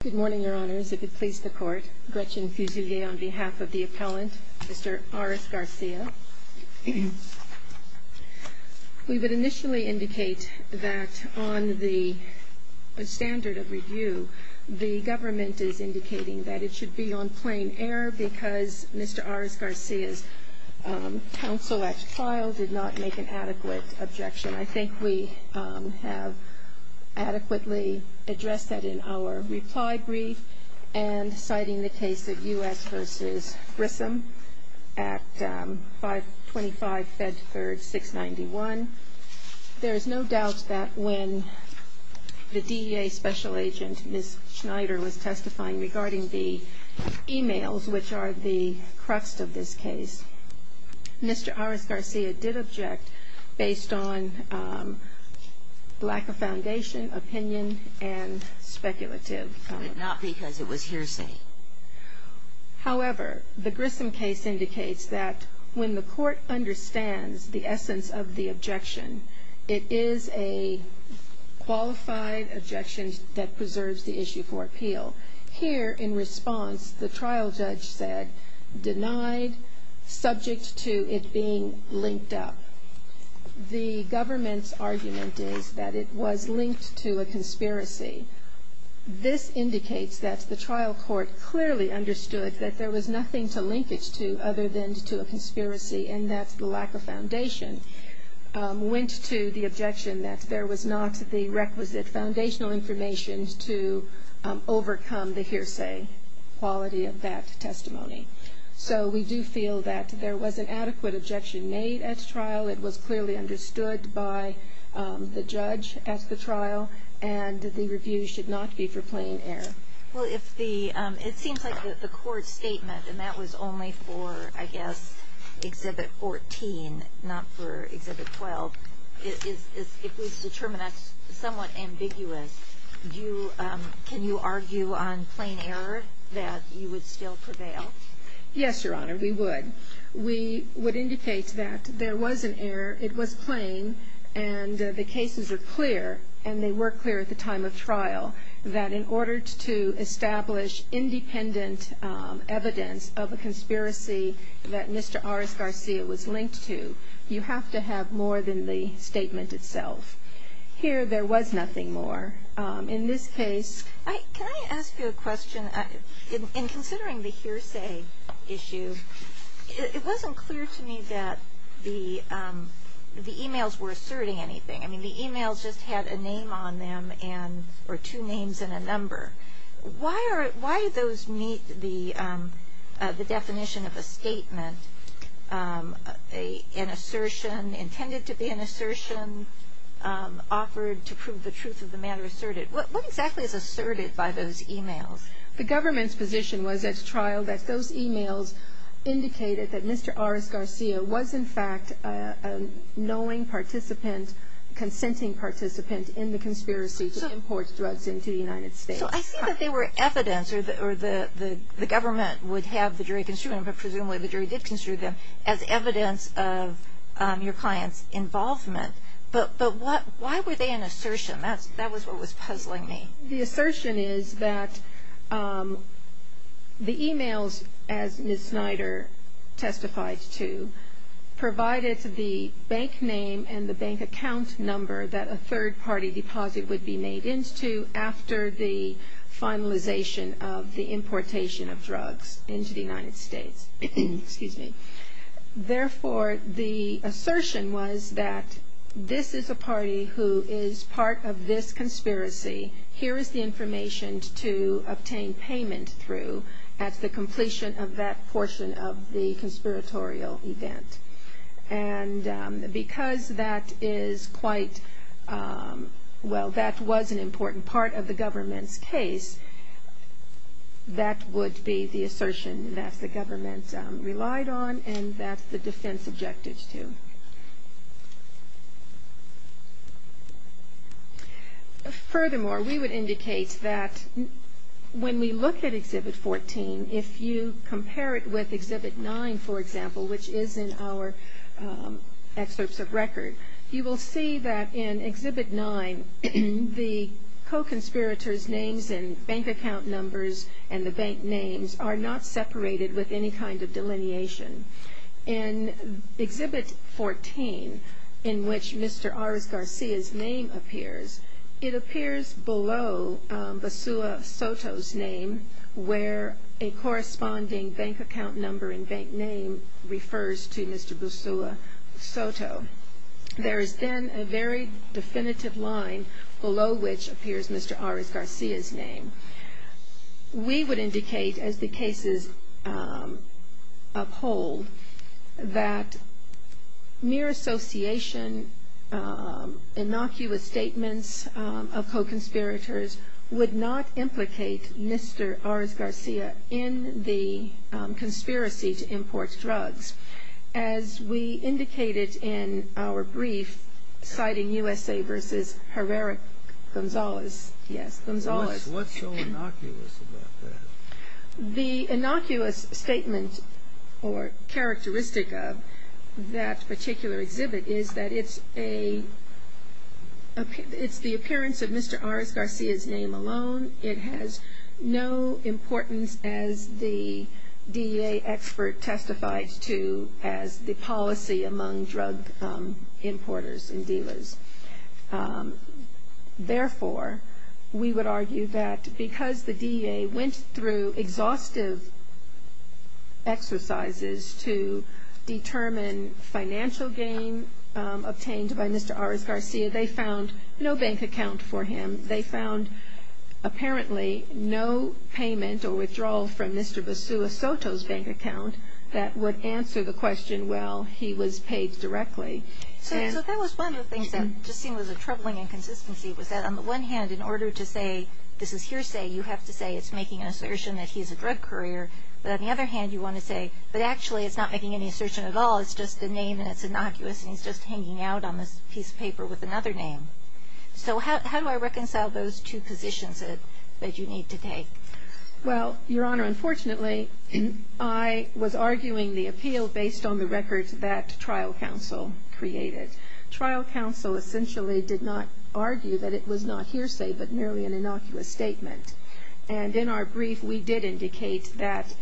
Good morning, Your Honors. If it pleases the Court, Gretchen Fusilier on behalf of the appellant, Mr. Ares-Garcia. We would initially indicate that on the standard of review, the government is indicating that it should be on plain error because Mr. Ares-Garcia's counsel at trial did not make an adequate objection. And I think we have adequately addressed that in our reply brief and citing the case of U.S. v. Grissom at 525 Bedford 691. There is no doubt that when the DEA special agent, Ms. Schneider, was testifying regarding the emails, which are the crux of this case, Mr. Ares-Garcia did object based on lack of foundation, opinion, and speculative. But not because it was hearsay. However, the Grissom case indicates that when the Court understands the essence of the objection, it is a qualified objection that preserves the issue for appeal. Here, in response, the trial judge said, denied, subject to it being linked up. The government's argument is that it was linked to a conspiracy. This indicates that the trial court clearly understood that there was nothing to link it to other than to a conspiracy, and that the lack of foundation went to the objection that there was not the requisite foundational information to overcome the hearsay quality of that testimony. So we do feel that there was an adequate objection made at trial. It was clearly understood by the judge at the trial, and the review should not be for plain error. Well, it seems like the Court's statement, and that was only for, I guess, Exhibit 14, not for Exhibit 12. If we determine that's somewhat ambiguous, can you argue on plain error that you would still prevail? Yes, Your Honor, we would. We would indicate that there was an error, it was plain, and the cases were clear, and they were clear at the time of trial, that in order to establish independent evidence of a conspiracy that Mr. Aras-Garcia was linked to, you have to have more than the statement itself. Here, there was nothing more. In this case- Can I ask you a question? In considering the hearsay issue, it wasn't clear to me that the e-mails were asserting anything. I mean, the e-mails just had a name on them, or two names and a number. Why did those meet the definition of a statement, an assertion, intended to be an assertion, offered to prove the truth of the matter asserted? What exactly is asserted by those e-mails? The government's position was at trial that those e-mails indicated that Mr. Aras-Garcia was, in fact, a knowing participant, consenting participant in the conspiracy to import drugs into the United States. So I see that they were evidence, or the government would have the jury construe them, but presumably the jury did construe them, as evidence of your client's involvement. But why were they an assertion? That was what was puzzling me. The assertion is that the e-mails, as Ms. Snyder testified to, provided the bank name and the bank account number that a third-party deposit would be made into after the finalization of the importation of drugs into the United States. Therefore, the assertion was that this is a party who is part of this conspiracy. Here is the information to obtain payment through at the completion of that portion of the conspiratorial event. And because that is quite, well, that was an important part of the government's case, that would be the assertion that the government relied on and that the defense objected to. Furthermore, we would indicate that when we look at Exhibit 14, if you compare it with Exhibit 9, for example, which is in our excerpts of record, you will see that in Exhibit 9, the co-conspirator's names and bank account numbers and the bank names are not separated with any kind of delineation. In Exhibit 14, in which Mr. Aras Garcia's name appears, it appears below Basuah Soto's name, where a corresponding bank account number and bank name refers to Mr. Basuah Soto. There is then a very definitive line below which appears Mr. Aras Garcia's name. We would indicate, as the cases uphold, that mere association, innocuous statements of co-conspirators would not implicate Mr. Aras Garcia in the conspiracy to import drugs. As we indicated in our brief, citing USA versus Herrera-Gonzalez, yes, Gonzalez. What's so innocuous about that? The innocuous statement or characteristic of that particular exhibit is that it's the appearance of Mr. Aras Garcia's name alone. It has no importance, as the DEA expert testified to, as the policy among drug importers and dealers. Therefore, we would argue that because the DEA went through exhaustive exercises to determine financial gain obtained by Mr. Aras Garcia, they found no bank account for him. They found, apparently, no payment or withdrawal from Mr. Basuah Soto's bank account that would answer the question, well, he was paid directly. So that was one of the things that just seemed was a troubling inconsistency, was that on the one hand, in order to say this is hearsay, you have to say it's making an assertion that he's a drug courier. But on the other hand, you want to say, but actually, it's not making any assertion at all. It's just the name, and it's innocuous, and he's just hanging out on this piece of paper with another name. So how do I reconcile those two positions that you need to take? Well, Your Honor, unfortunately, I was arguing the appeal based on the records that trial counsel created. Trial counsel essentially did not argue that it was not hearsay, but merely an innocuous statement. And in our brief, we did indicate that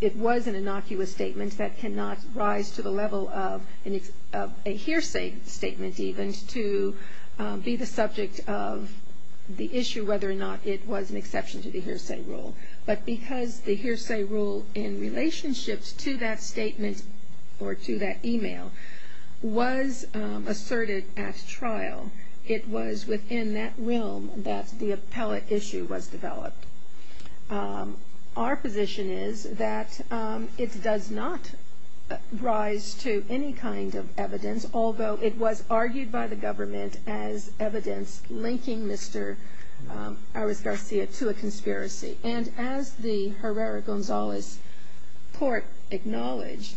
it was an innocuous statement that cannot rise to the level of a hearsay statement, even, to be the subject of the issue whether or not it was an exception to the hearsay rule. But because the hearsay rule in relationship to that statement or to that e-mail was asserted at trial, it was within that realm that the appellate issue was developed. Our position is that it does not rise to any kind of evidence, although it was argued by the government as evidence linking Mr. Arroz Garcia to a conspiracy. And as the Herrera-Gonzalez court acknowledged,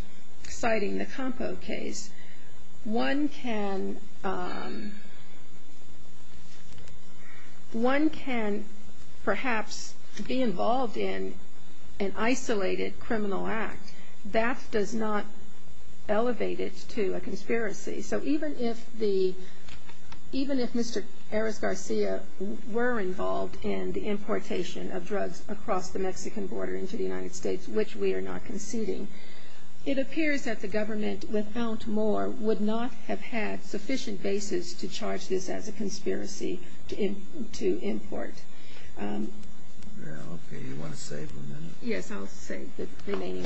citing the Campo case, one can perhaps be involved in an isolated criminal act. That does not elevate it to a conspiracy. So even if the, even if Mr. Arroz Garcia were involved in the importation of drugs across the Mexican border into the United States, which we are not conceding, it appears that the government, without more, would not have had sufficient basis to charge this as a conspiracy to import. Okay. You want to save a minute?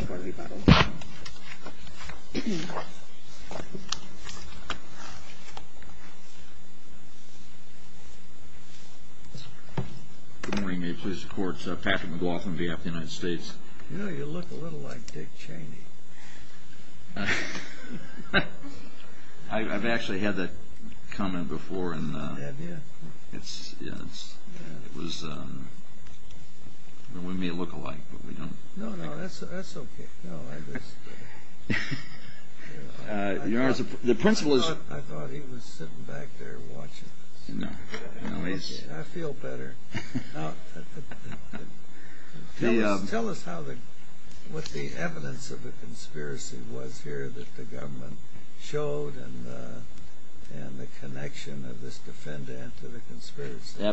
We may please the court. Patrick McLaughlin, VF of the United States. You know, you look a little like Dick Cheney. I've actually had that comment before. Have you? We may look alike, but we don't. No, no, that's okay. I thought he was sitting back there watching this. I feel better. Tell us what the evidence of the conspiracy was here that the government showed and the connection of this defendant to the conspiracy.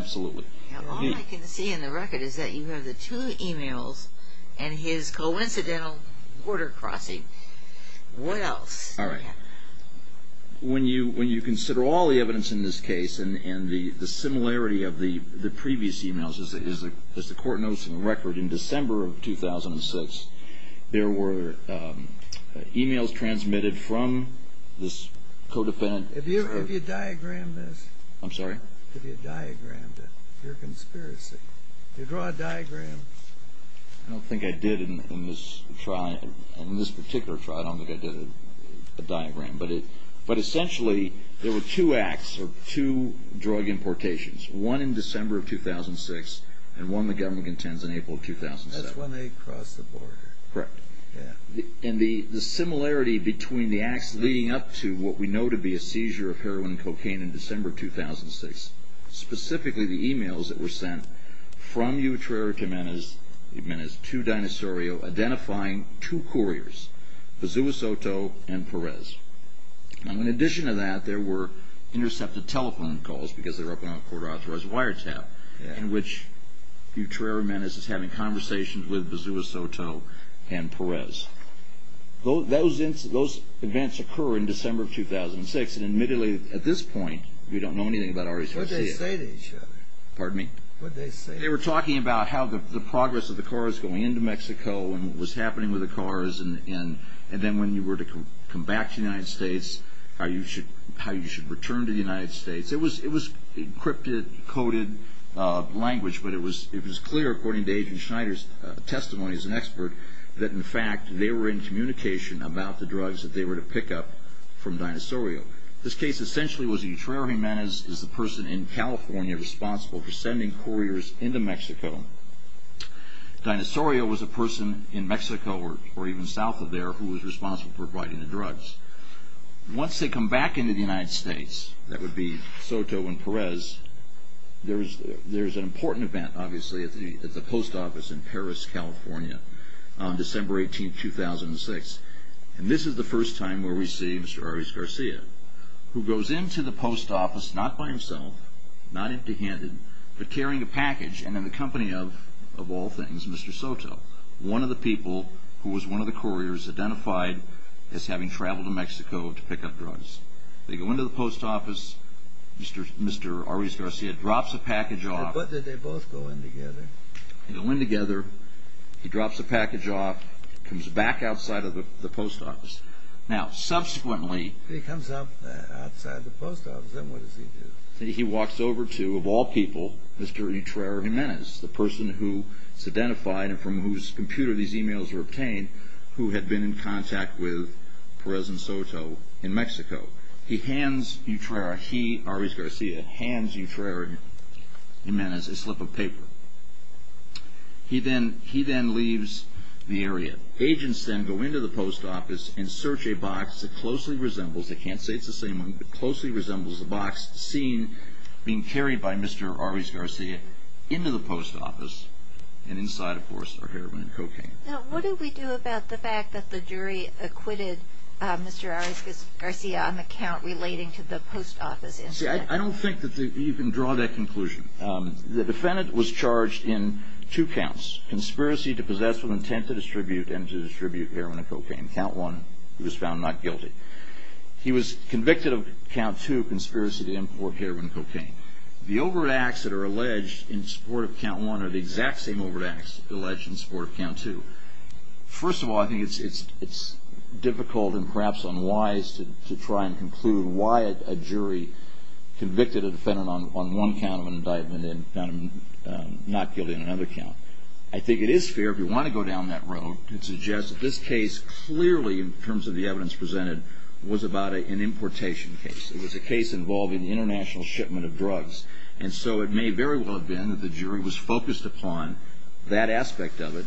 All I can see in the record is that you have the two emails and his coincidental border crossing. What else? When you consider all the evidence in this case and the similarity of the previous emails, as the court notes in the record, in December of 2006, there were emails transmitted from this co-defendant. Have you diagrammed this? I'm sorry? Have you diagrammed it, your conspiracy? I don't think I did in this trial. In this particular trial, I don't think I did a diagram. But essentially, there were two acts or two drug importations, one in December of 2006 and one the government intends in April of 2007. That's when they crossed the border. Correct. And the similarity between the acts leading up to what we know to be a seizure of heroin and cocaine in December of 2006, specifically the emails that were sent from Utrera to Menes, to Dinosaurio, identifying two couriers, Pazuasoto and Perez. And in addition to that, there were intercepted telephone calls, because they were up on a court-authorized wiretap, in which Utrera Menes is having conversations with Perez. Those events occur in December of 2006. And admittedly, at this point, we don't know anything about our associates. What did they say to each other? They were talking about how the progress of the cars going into Mexico and what was happening with the cars, and then when you were to come back to the United States, how you should return to the United States. It was encrypted, coded language, but it was clear, according to Agent Schneider's testimony as an expert, that in fact, they were in communication about the drugs that they were to pick up from Dinosaurio. This case essentially was Utrera Menes is the person in California responsible for sending couriers into Mexico. Dinosaurio was a person in Mexico, or even south of there, who was responsible for providing the drugs. Once they come back into the United States, that would be Soto and Perez, there's an important event, obviously, at the post office in Paris, California, on December 18, 2006. And this is the first time where we see Mr. Arias Garcia, who goes into the post office, not by himself, not empty-handed, but carrying a package, and in the company of, of all things, Mr. Soto. One of the people, who was one of the couriers, identified as having traveled to Mexico to pick up drugs. They go into the post office, Mr. Arias Garcia drops a package off. But did they both go in together? They go in together, he drops the package off, comes back outside of the post office. Now, subsequently... He comes up outside the post office, then what does he do? He walks over to, of all people, Mr. Utrera Jimenez, the person who is identified, and from whose computer these emails were obtained, who had been in contact with Perez and Soto in Mexico. He hands Utrera, he, Arias Garcia, hands Utrera Jimenez a slip of paper. He then, he then leaves the area. Agents then go into the post office and search a box that closely resembles, I can't say it's the same one, but closely resembles a box seen being carried by Mr. Arias Garcia into the post office, and inside, of course, are heroin and cocaine. Now, what do we do about the fact that the jury acquitted Mr. Arias Garcia on the count relating to the post office incident? See, I don't think that you can draw that conclusion. The defendant was charged in two counts. Conspiracy to possess with intent to distribute and to distribute heroin and cocaine. Count one, he was found not guilty. He was convicted of count two, conspiracy to import heroin and cocaine. The overt acts that are alleged in support of count one are the exact same overt acts alleged in support of count two. First of all, I think it's difficult and perhaps unwise to try and conclude why a jury convicted a defendant on one count of indictment and found him not guilty on another count. I think it is fair, if you want to go down that road, to suggest that this case clearly, in terms of the evidence presented, was about an importation case. It was a case involving international shipment of drugs, and so it may very well have been that the jury was focused upon that aspect of it,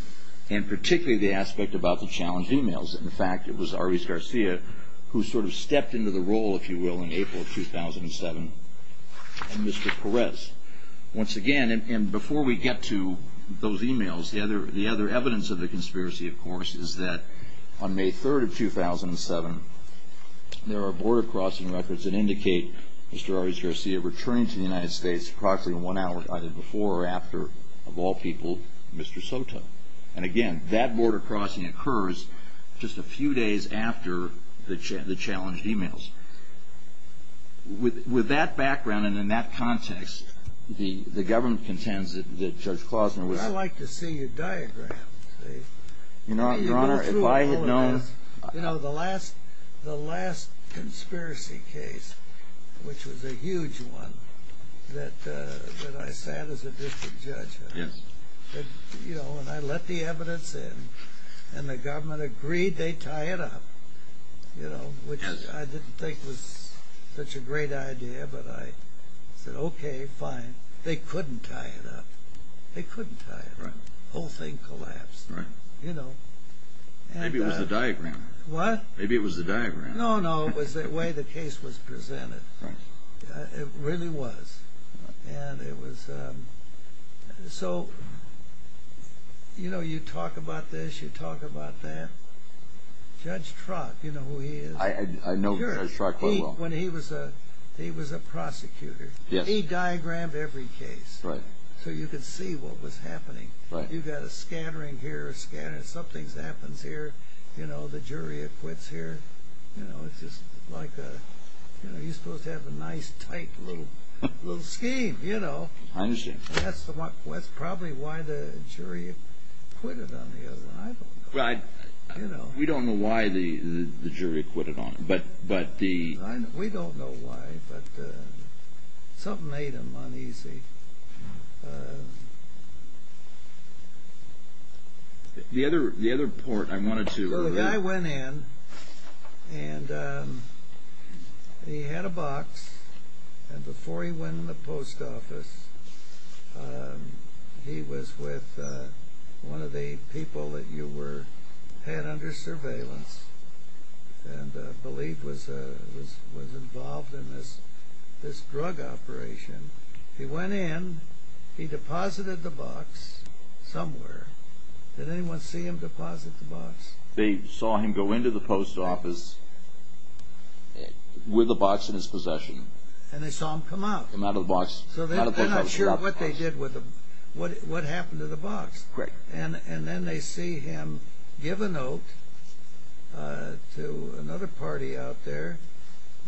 and particularly the aspect about the challenged emails. In fact, it was Arias Garcia who sort of stepped into the role, if you will, in April of 2007, and Mr. Perez. Once again, and before we get to those emails, the other evidence of the conspiracy, of course, is that on May 3rd of 2007, there are border crossing records that indicate Mr. Arias Garcia returning to the United States approximately one hour either before or after, of all people, Mr. Soto. And again, that border crossing occurs just a few days after the challenged emails. With that background and in that context, the government contends that Judge Klausner was- I'd like to see your diagram. Your Honor, if I had known- You know, the last conspiracy case, which was a huge one, that I sat as a district judge on, and I let the evidence in, and the government agreed they'd tie it up, which I didn't think was such a great idea, but I said, okay, fine. They couldn't tie it up. They couldn't tie it up. The whole thing collapsed. Maybe it was the diagram. What? Maybe it was the diagram. No, no, it was the way the case was presented. It really was. And it was- So, you know, you talk about this, you talk about that. Judge Trott, you know who he is? I know Judge Trott quite well. He was a prosecutor. He diagrammed every case so you could see what was happening. You've got a scattering here, a scattering- Something happens here, you know, the jury acquits here. You know, it's just like a- You know, you're supposed to have a nice, tight little scheme, you know. I understand. That's probably why the jury acquitted on the other one. I don't know. Right. You know. We don't know why the jury acquitted on it, but the- We don't know why, but something made them uneasy. The other report I wanted to- So the guy went in, and he had a box, and before he went in the post office, he was with one of the people that you were- had under surveillance and believed was involved in this drug operation. He went in, he deposited the box somewhere. Did anyone see him deposit the box? They saw him go into the post office with a box in his possession. And they saw him come out. Come out of the box. So they're not sure what they did with him, what happened to the box. Correct. And then they see him give a note to another party out there,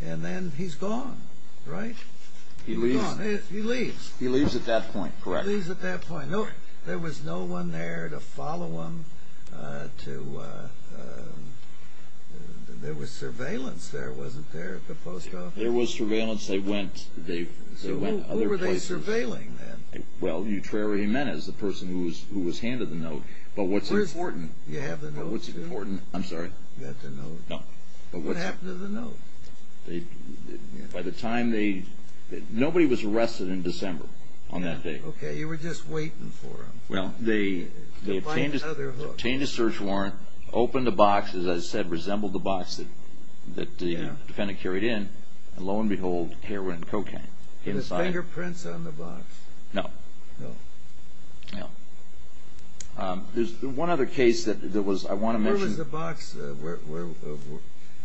and then he's gone, right? He leaves. He leaves. He leaves at that point, correct. He leaves at that point. There was no one there to follow him to- There was surveillance there, wasn't there, at the post office? There was surveillance. They went other places. So who were they surveilling then? Well, Utrera Jimenez, the person who was handed the note. But what's important- You have the note? But what's important- I'm sorry? You have the note? No. What happened to the note? By the time they- nobody was arrested in December on that day. Okay. You were just waiting for them. Well, they obtained a search warrant, opened the box. As I said, it resembled the box that the defendant carried in. And lo and behold, heroin and cocaine. Were there fingerprints on the box? No. No. No. There's one other case that was- I want to mention- Where was the box-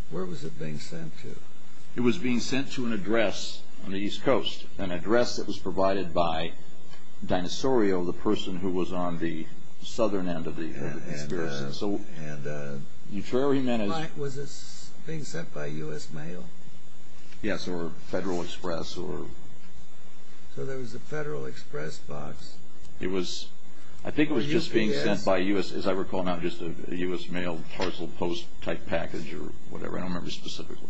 where was it being sent to? It was being sent to an address on the East Coast, an address that was provided by Dinosorio, the person who was on the southern end of the conspiracy. And Utrera Jimenez- Was this being sent by U.S. mail? Yes, or Federal Express or- So there was a Federal Express box. It was- I think it was just being sent by U.S. As I recall now, just a U.S. mail parcel post type package or whatever. I don't remember specifically.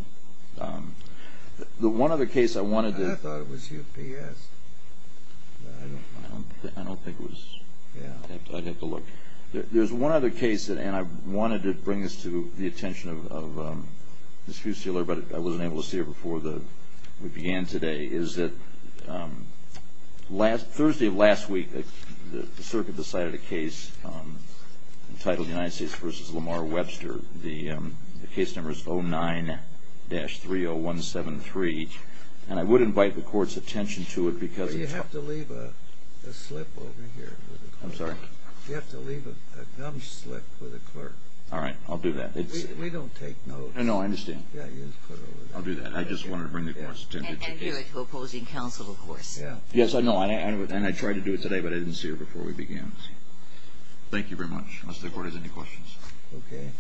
The one other case I wanted to- I thought it was UPS. I don't think it was. I'd have to look. There's one other case, and I wanted to bring this to the attention of Ms. Fusilier, but I wasn't able to see her before we began today, is that Thursday of last week, the circuit decided a case entitled United States v. Lamar Webster. The case number is 09-30173. And I would invite the court's attention to it because- You have to leave a slip over here. I'm sorry? You have to leave a gum slip for the clerk. All right, I'll do that. We don't take notes. No, I understand. Yeah, you just put it over there. I'll do that. I just wanted to bring the court's attention to the case. And you're opposing counsel, of course. Yes, I know. And I tried to do it today, but I didn't see her before we began. Thank you very much. Unless the court has any questions. Okay.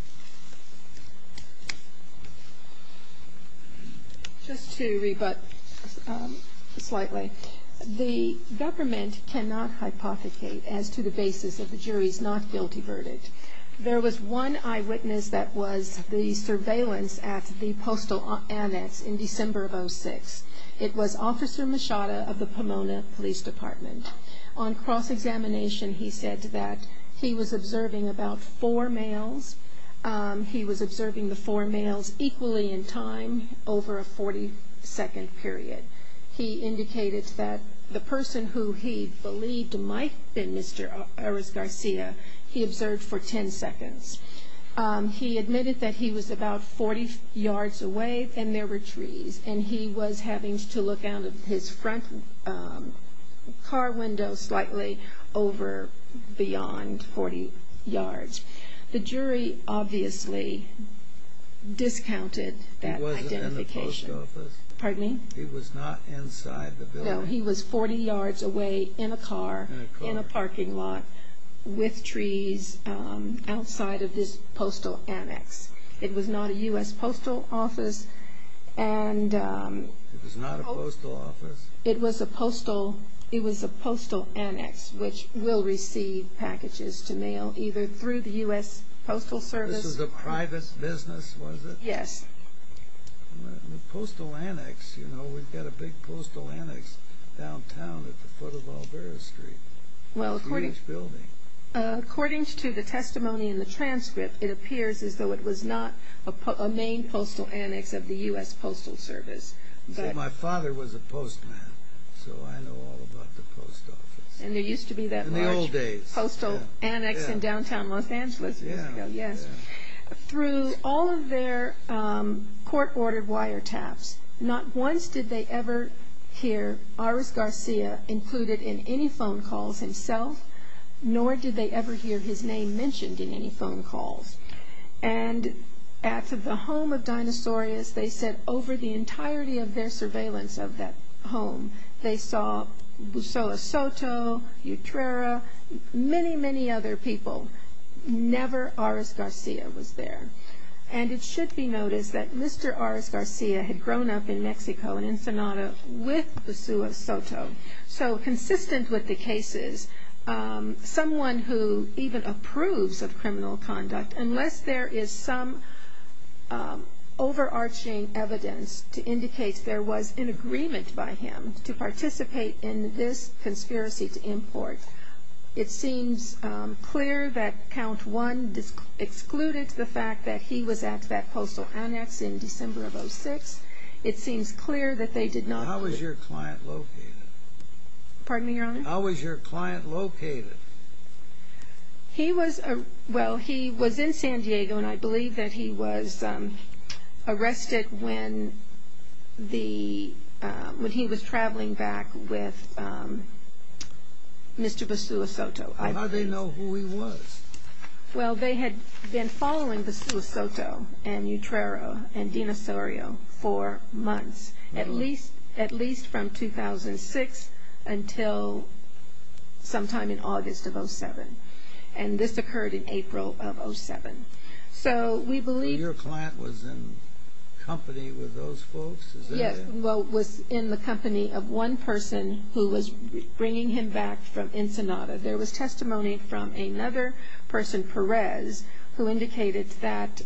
Just to rebut slightly, the government cannot hypothecate as to the basis of the jury's not guilty verdict. There was one eyewitness that was the surveillance at the postal annex in December of 2006. It was Officer Machado of the Pomona Police Department. On cross-examination, he said that he was observing about four males, he was observing the four males equally in time over a 40-second period. He indicated that the person who he believed might have been Mr. Uris-Garcia, he observed for 10 seconds. He admitted that he was about 40 yards away and there were trees, and he was having to look out of his front car window slightly over beyond 40 yards. The jury obviously discounted that identification. He wasn't in the post office. Pardon me? He was not inside the building. No, he was 40 yards away in a car. In a car. In a parking lot with trees outside of this postal annex. It was not a U.S. postal office. It was not a postal office. It was a postal annex, which will receive packages to mail either through the U.S. Postal Service. This was a private business, was it? Yes. The postal annex, you know, we've got a big postal annex downtown at the foot of Olvera Street. It's a huge building. According to the testimony in the transcript, it appears as though it was not a main postal annex of the U.S. Postal Service. My father was a postman, so I know all about the post office. There used to be that large postal annex in downtown Los Angeles. Through all of their court-ordered wiretaps, not once did they ever hear Iris Garcia included in any phone calls himself, nor did they ever hear his name mentioned in any phone calls. At the home of Dinosaurius, they said over the entirety of their surveillance of that home, they saw Busoa Soto, Utrera, many, many other people. Never Iris Garcia was there. And it should be noticed that Mr. Iris Garcia had grown up in Mexico, in Ensenada, with Busoa Soto. So consistent with the cases, someone who even approves of criminal conduct, unless there is some overarching evidence to indicate there was an agreement by him to participate in this conspiracy to import, it seems clear that Count One excluded the fact that he was at that postal annex in December of 06. It seems clear that they did not. How was your client located? Pardon me, Your Honor? How was your client located? Well, he was in San Diego, and I believe that he was arrested when he was traveling back with Mr. Busoa Soto. How did they know who he was? Well, they had been following Busoa Soto and Utrera and Dinosaurius for months, at least from 2006 until sometime in August of 07. And this occurred in April of 07. So we believe... So your client was in company with those folks? Yes, well, was in the company of one person who was bringing him back from Ensenada. There was testimony from another person, Perez, who indicated that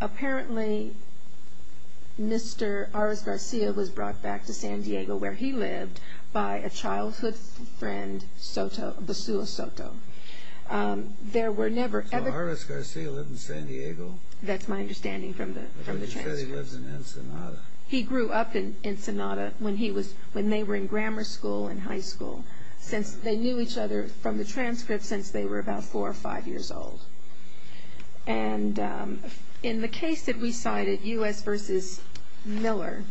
apparently Mr. Aras Garcia was brought back to San Diego where he lived by a childhood friend, Busoa Soto. So Aras Garcia lived in San Diego? That's my understanding from the transcript. But you said he lives in Ensenada. He grew up in Ensenada when they were in grammar school and high school. They knew each other from the transcript since they were about 4 or 5 years old. And in the case that we cited, U.S. v. Miller,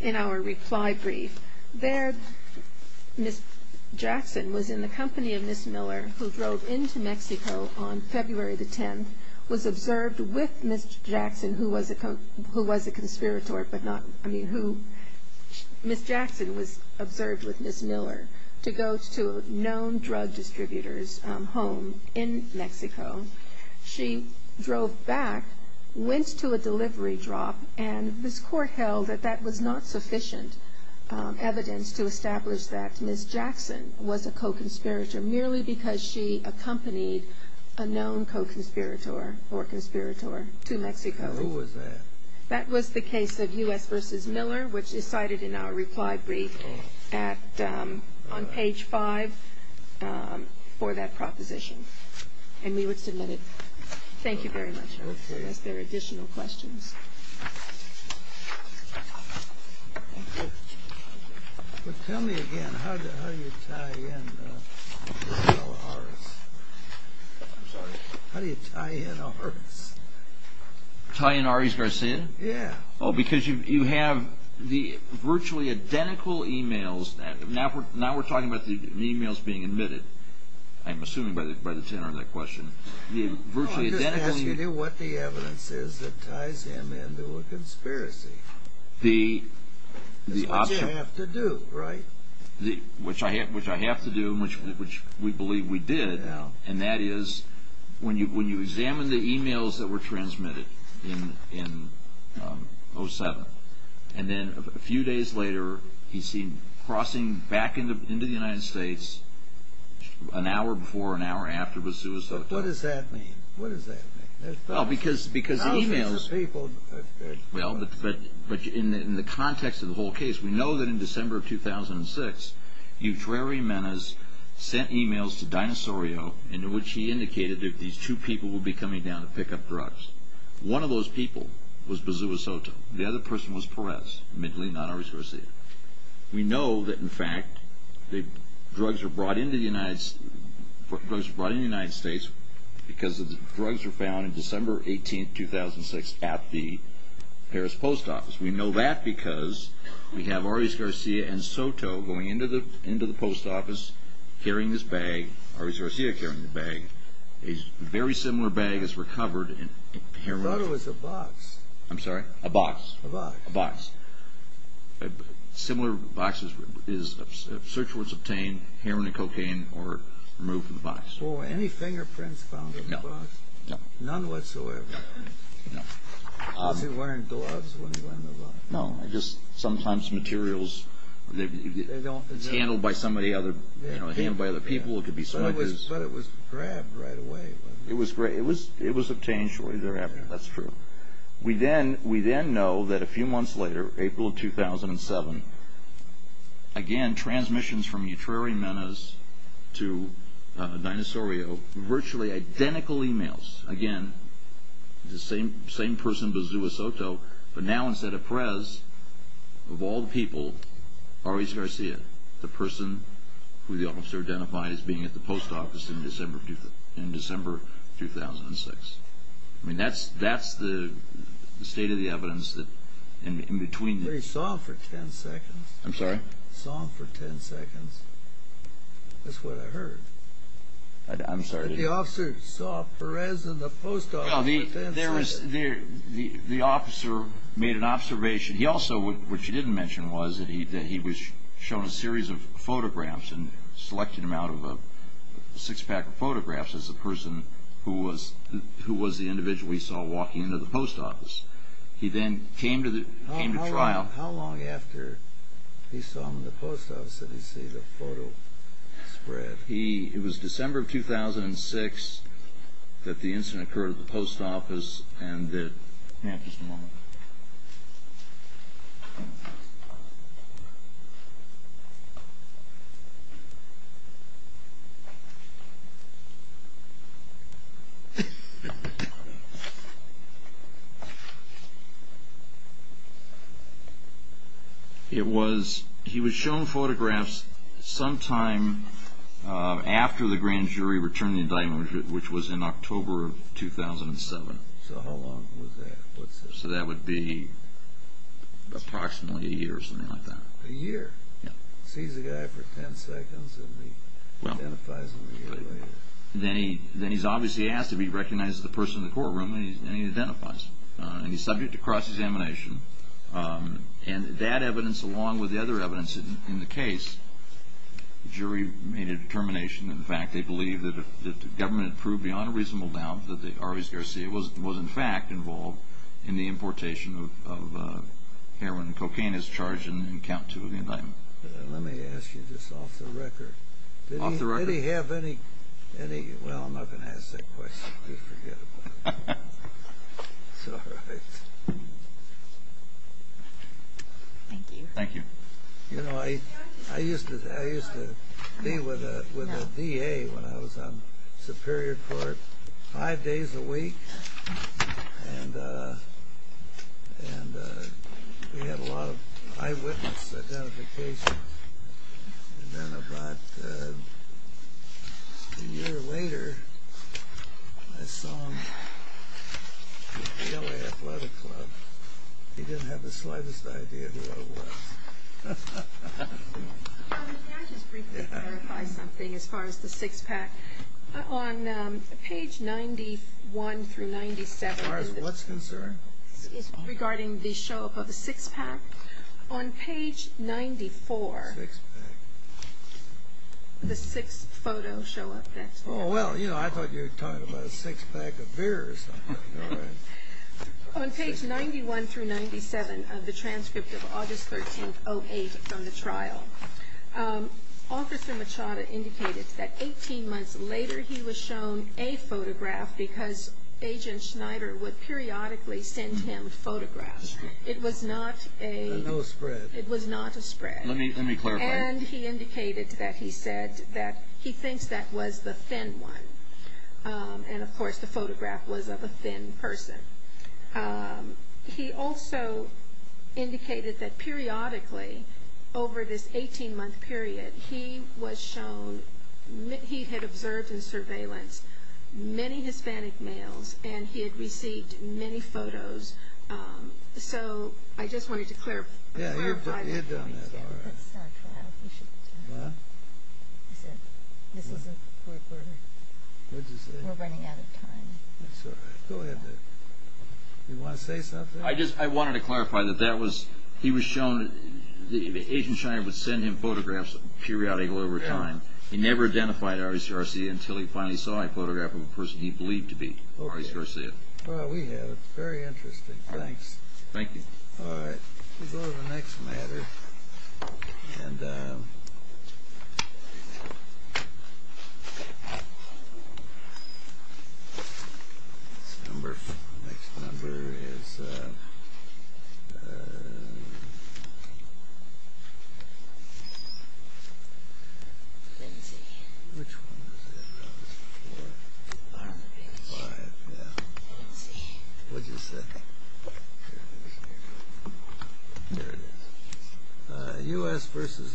in our reply brief, there Ms. Jackson was in the company of Ms. Miller, who drove into Mexico on February the 10th, was observed with Ms. Jackson, who was a conspirator, who Ms. Jackson was observed with Ms. Miller, to go to a known drug distributor's home in Mexico. She drove back, went to a delivery drop, and this Court held that that was not sufficient evidence to establish that Ms. Jackson was a co-conspirator, merely because she accompanied a known co-conspirator or conspirator to Mexico. Who was that? That was the case of U.S. v. Miller, which is cited in our reply brief on page 5 for that proposition. And we would submit it. Thank you very much. Are there any additional questions? Tell me again, how do you tie in Orris? I'm sorry. How do you tie in Orris? Tie in Orris Garcia? Yeah. Oh, because you have the virtually identical e-mails. Now we're talking about the e-mails being admitted, I'm assuming by the tenor of that question. No, I'm just asking you what the evidence is that ties him into a conspiracy. It's what you have to do, right? Which I have to do, which we believe we did, and that is when you examine the e-mails that were transmitted in 07, and then a few days later he's seen crossing back into the United States an hour before or an hour after it was suicided. But what does that mean? What does that mean? Well, because the e-mails. Thousands of people. Well, but in the context of the whole case, we know that in December of 2006, Euteri Menas sent e-mails to Dinosaurio in which he indicated that these two people would be coming down to pick up drugs. One of those people was Bazua Soto. The other person was Perez, admittedly not Orris Garcia. We know that, in fact, drugs were brought into the United States because the drugs were found on December 18, 2006, at the Harris Post Office. We know that because we have Orris Garcia and Soto going into the post office carrying this bag, Orris Garcia carrying the bag. A very similar bag is recovered. I thought it was a box. I'm sorry? A box. A box. A box. Similar boxes, search warrants obtained, heroin and cocaine were removed from the box. Were any fingerprints found on the box? No. None whatsoever? No. Because they weren't gloves when he went in the box. No. Sometimes materials, it's handled by other people, it could be smugglers. But it was grabbed right away. It was obtained shortly thereafter. That's true. We then know that a few months later, April of 2007, again, transmissions from Euteri Menas to Dinosaurio, virtually identical e-mails. Again, the same person, Bazua Soto, but now instead of Perez, of all the people, Orris Garcia, the person who the officer identified as being at the post office in December 2006. I mean, that's the state of the evidence in between. But he saw him for 10 seconds. I'm sorry? Saw him for 10 seconds. That's what I heard. I'm sorry? The officer saw Perez in the post office. The officer made an observation. He also, which he didn't mention, was that he was shown a series of photographs and selected him out of a six-pack of photographs as the person who was the individual he saw walking into the post office. He then came to trial. How long after he saw him in the post office did he see the photo spread? It was December of 2006 that the incident occurred at the post office. Hang on just a moment. Hang on just a moment. It was he was shown photographs sometime after the grand jury returned the indictment, which was in October of 2007. So how long was that? So that would be approximately a year or something like that. A year. Yeah. Sees the guy for 10 seconds and he identifies him a year later. Then he's obviously asked if he recognizes the person in the courtroom, and he identifies him. And he's subject to cross-examination. And that evidence, along with the other evidence in the case, the jury made a determination, in fact, they believed that the government had proved beyond a reasonable doubt that the Arviz Garcia was, in fact, involved in the importation of heroin and cocaine as charged in count two of the indictment. Let me ask you this off the record. Off the record? Did he have any, well, I'm not going to ask that question. Please forget about it. It's all right. Thank you. Thank you. You know, I used to be with the VA when I was on Superior Court five days a week, and we had a lot of eyewitness identifications. And then about a year later I saw him at the LA Athletic Club. He didn't have the slightest idea who I was. May I just briefly clarify something as far as the six-pack? On page 91 through 97. As far as what's concerned? Regarding the show-up of the six-pack. On page 94. Six-pack. The six photos show up. Oh, well, you know, I thought you were talking about a six-pack of beer or something. On page 91 through 97 of the transcript of August 13th, 08, from the trial, Officer Machada indicated that 18 months later he was shown a photograph because Agent Schneider would periodically send him photographs. It was not a spread. Let me clarify. And he indicated that he said that he thinks that was the thin one. And, of course, the photograph was of a thin person. He also indicated that periodically, over this 18-month period, he was shown he had observed in surveillance many Hispanic males and he had received many photos. So I just wanted to clarify. Yeah, you've done that already. Let's start the trial. This isn't quick. What did you say? We're running out of time. That's all right. Go ahead. You want to say something? I just wanted to clarify that he was shown that Agent Schneider would send him photographs periodically over time. He never identified Aris Garcia until he finally saw a photograph of a person he believed to be Aris Garcia. Well, we have. Very interesting. Thanks. Thank you. All right. We'll go to the next matter. And this number, the next number is... Let me see. Which one is it? Oh, it's four. I don't know. Five, yeah. I don't see. What did you say? There it is. There it is. U.S. versus Lindsay.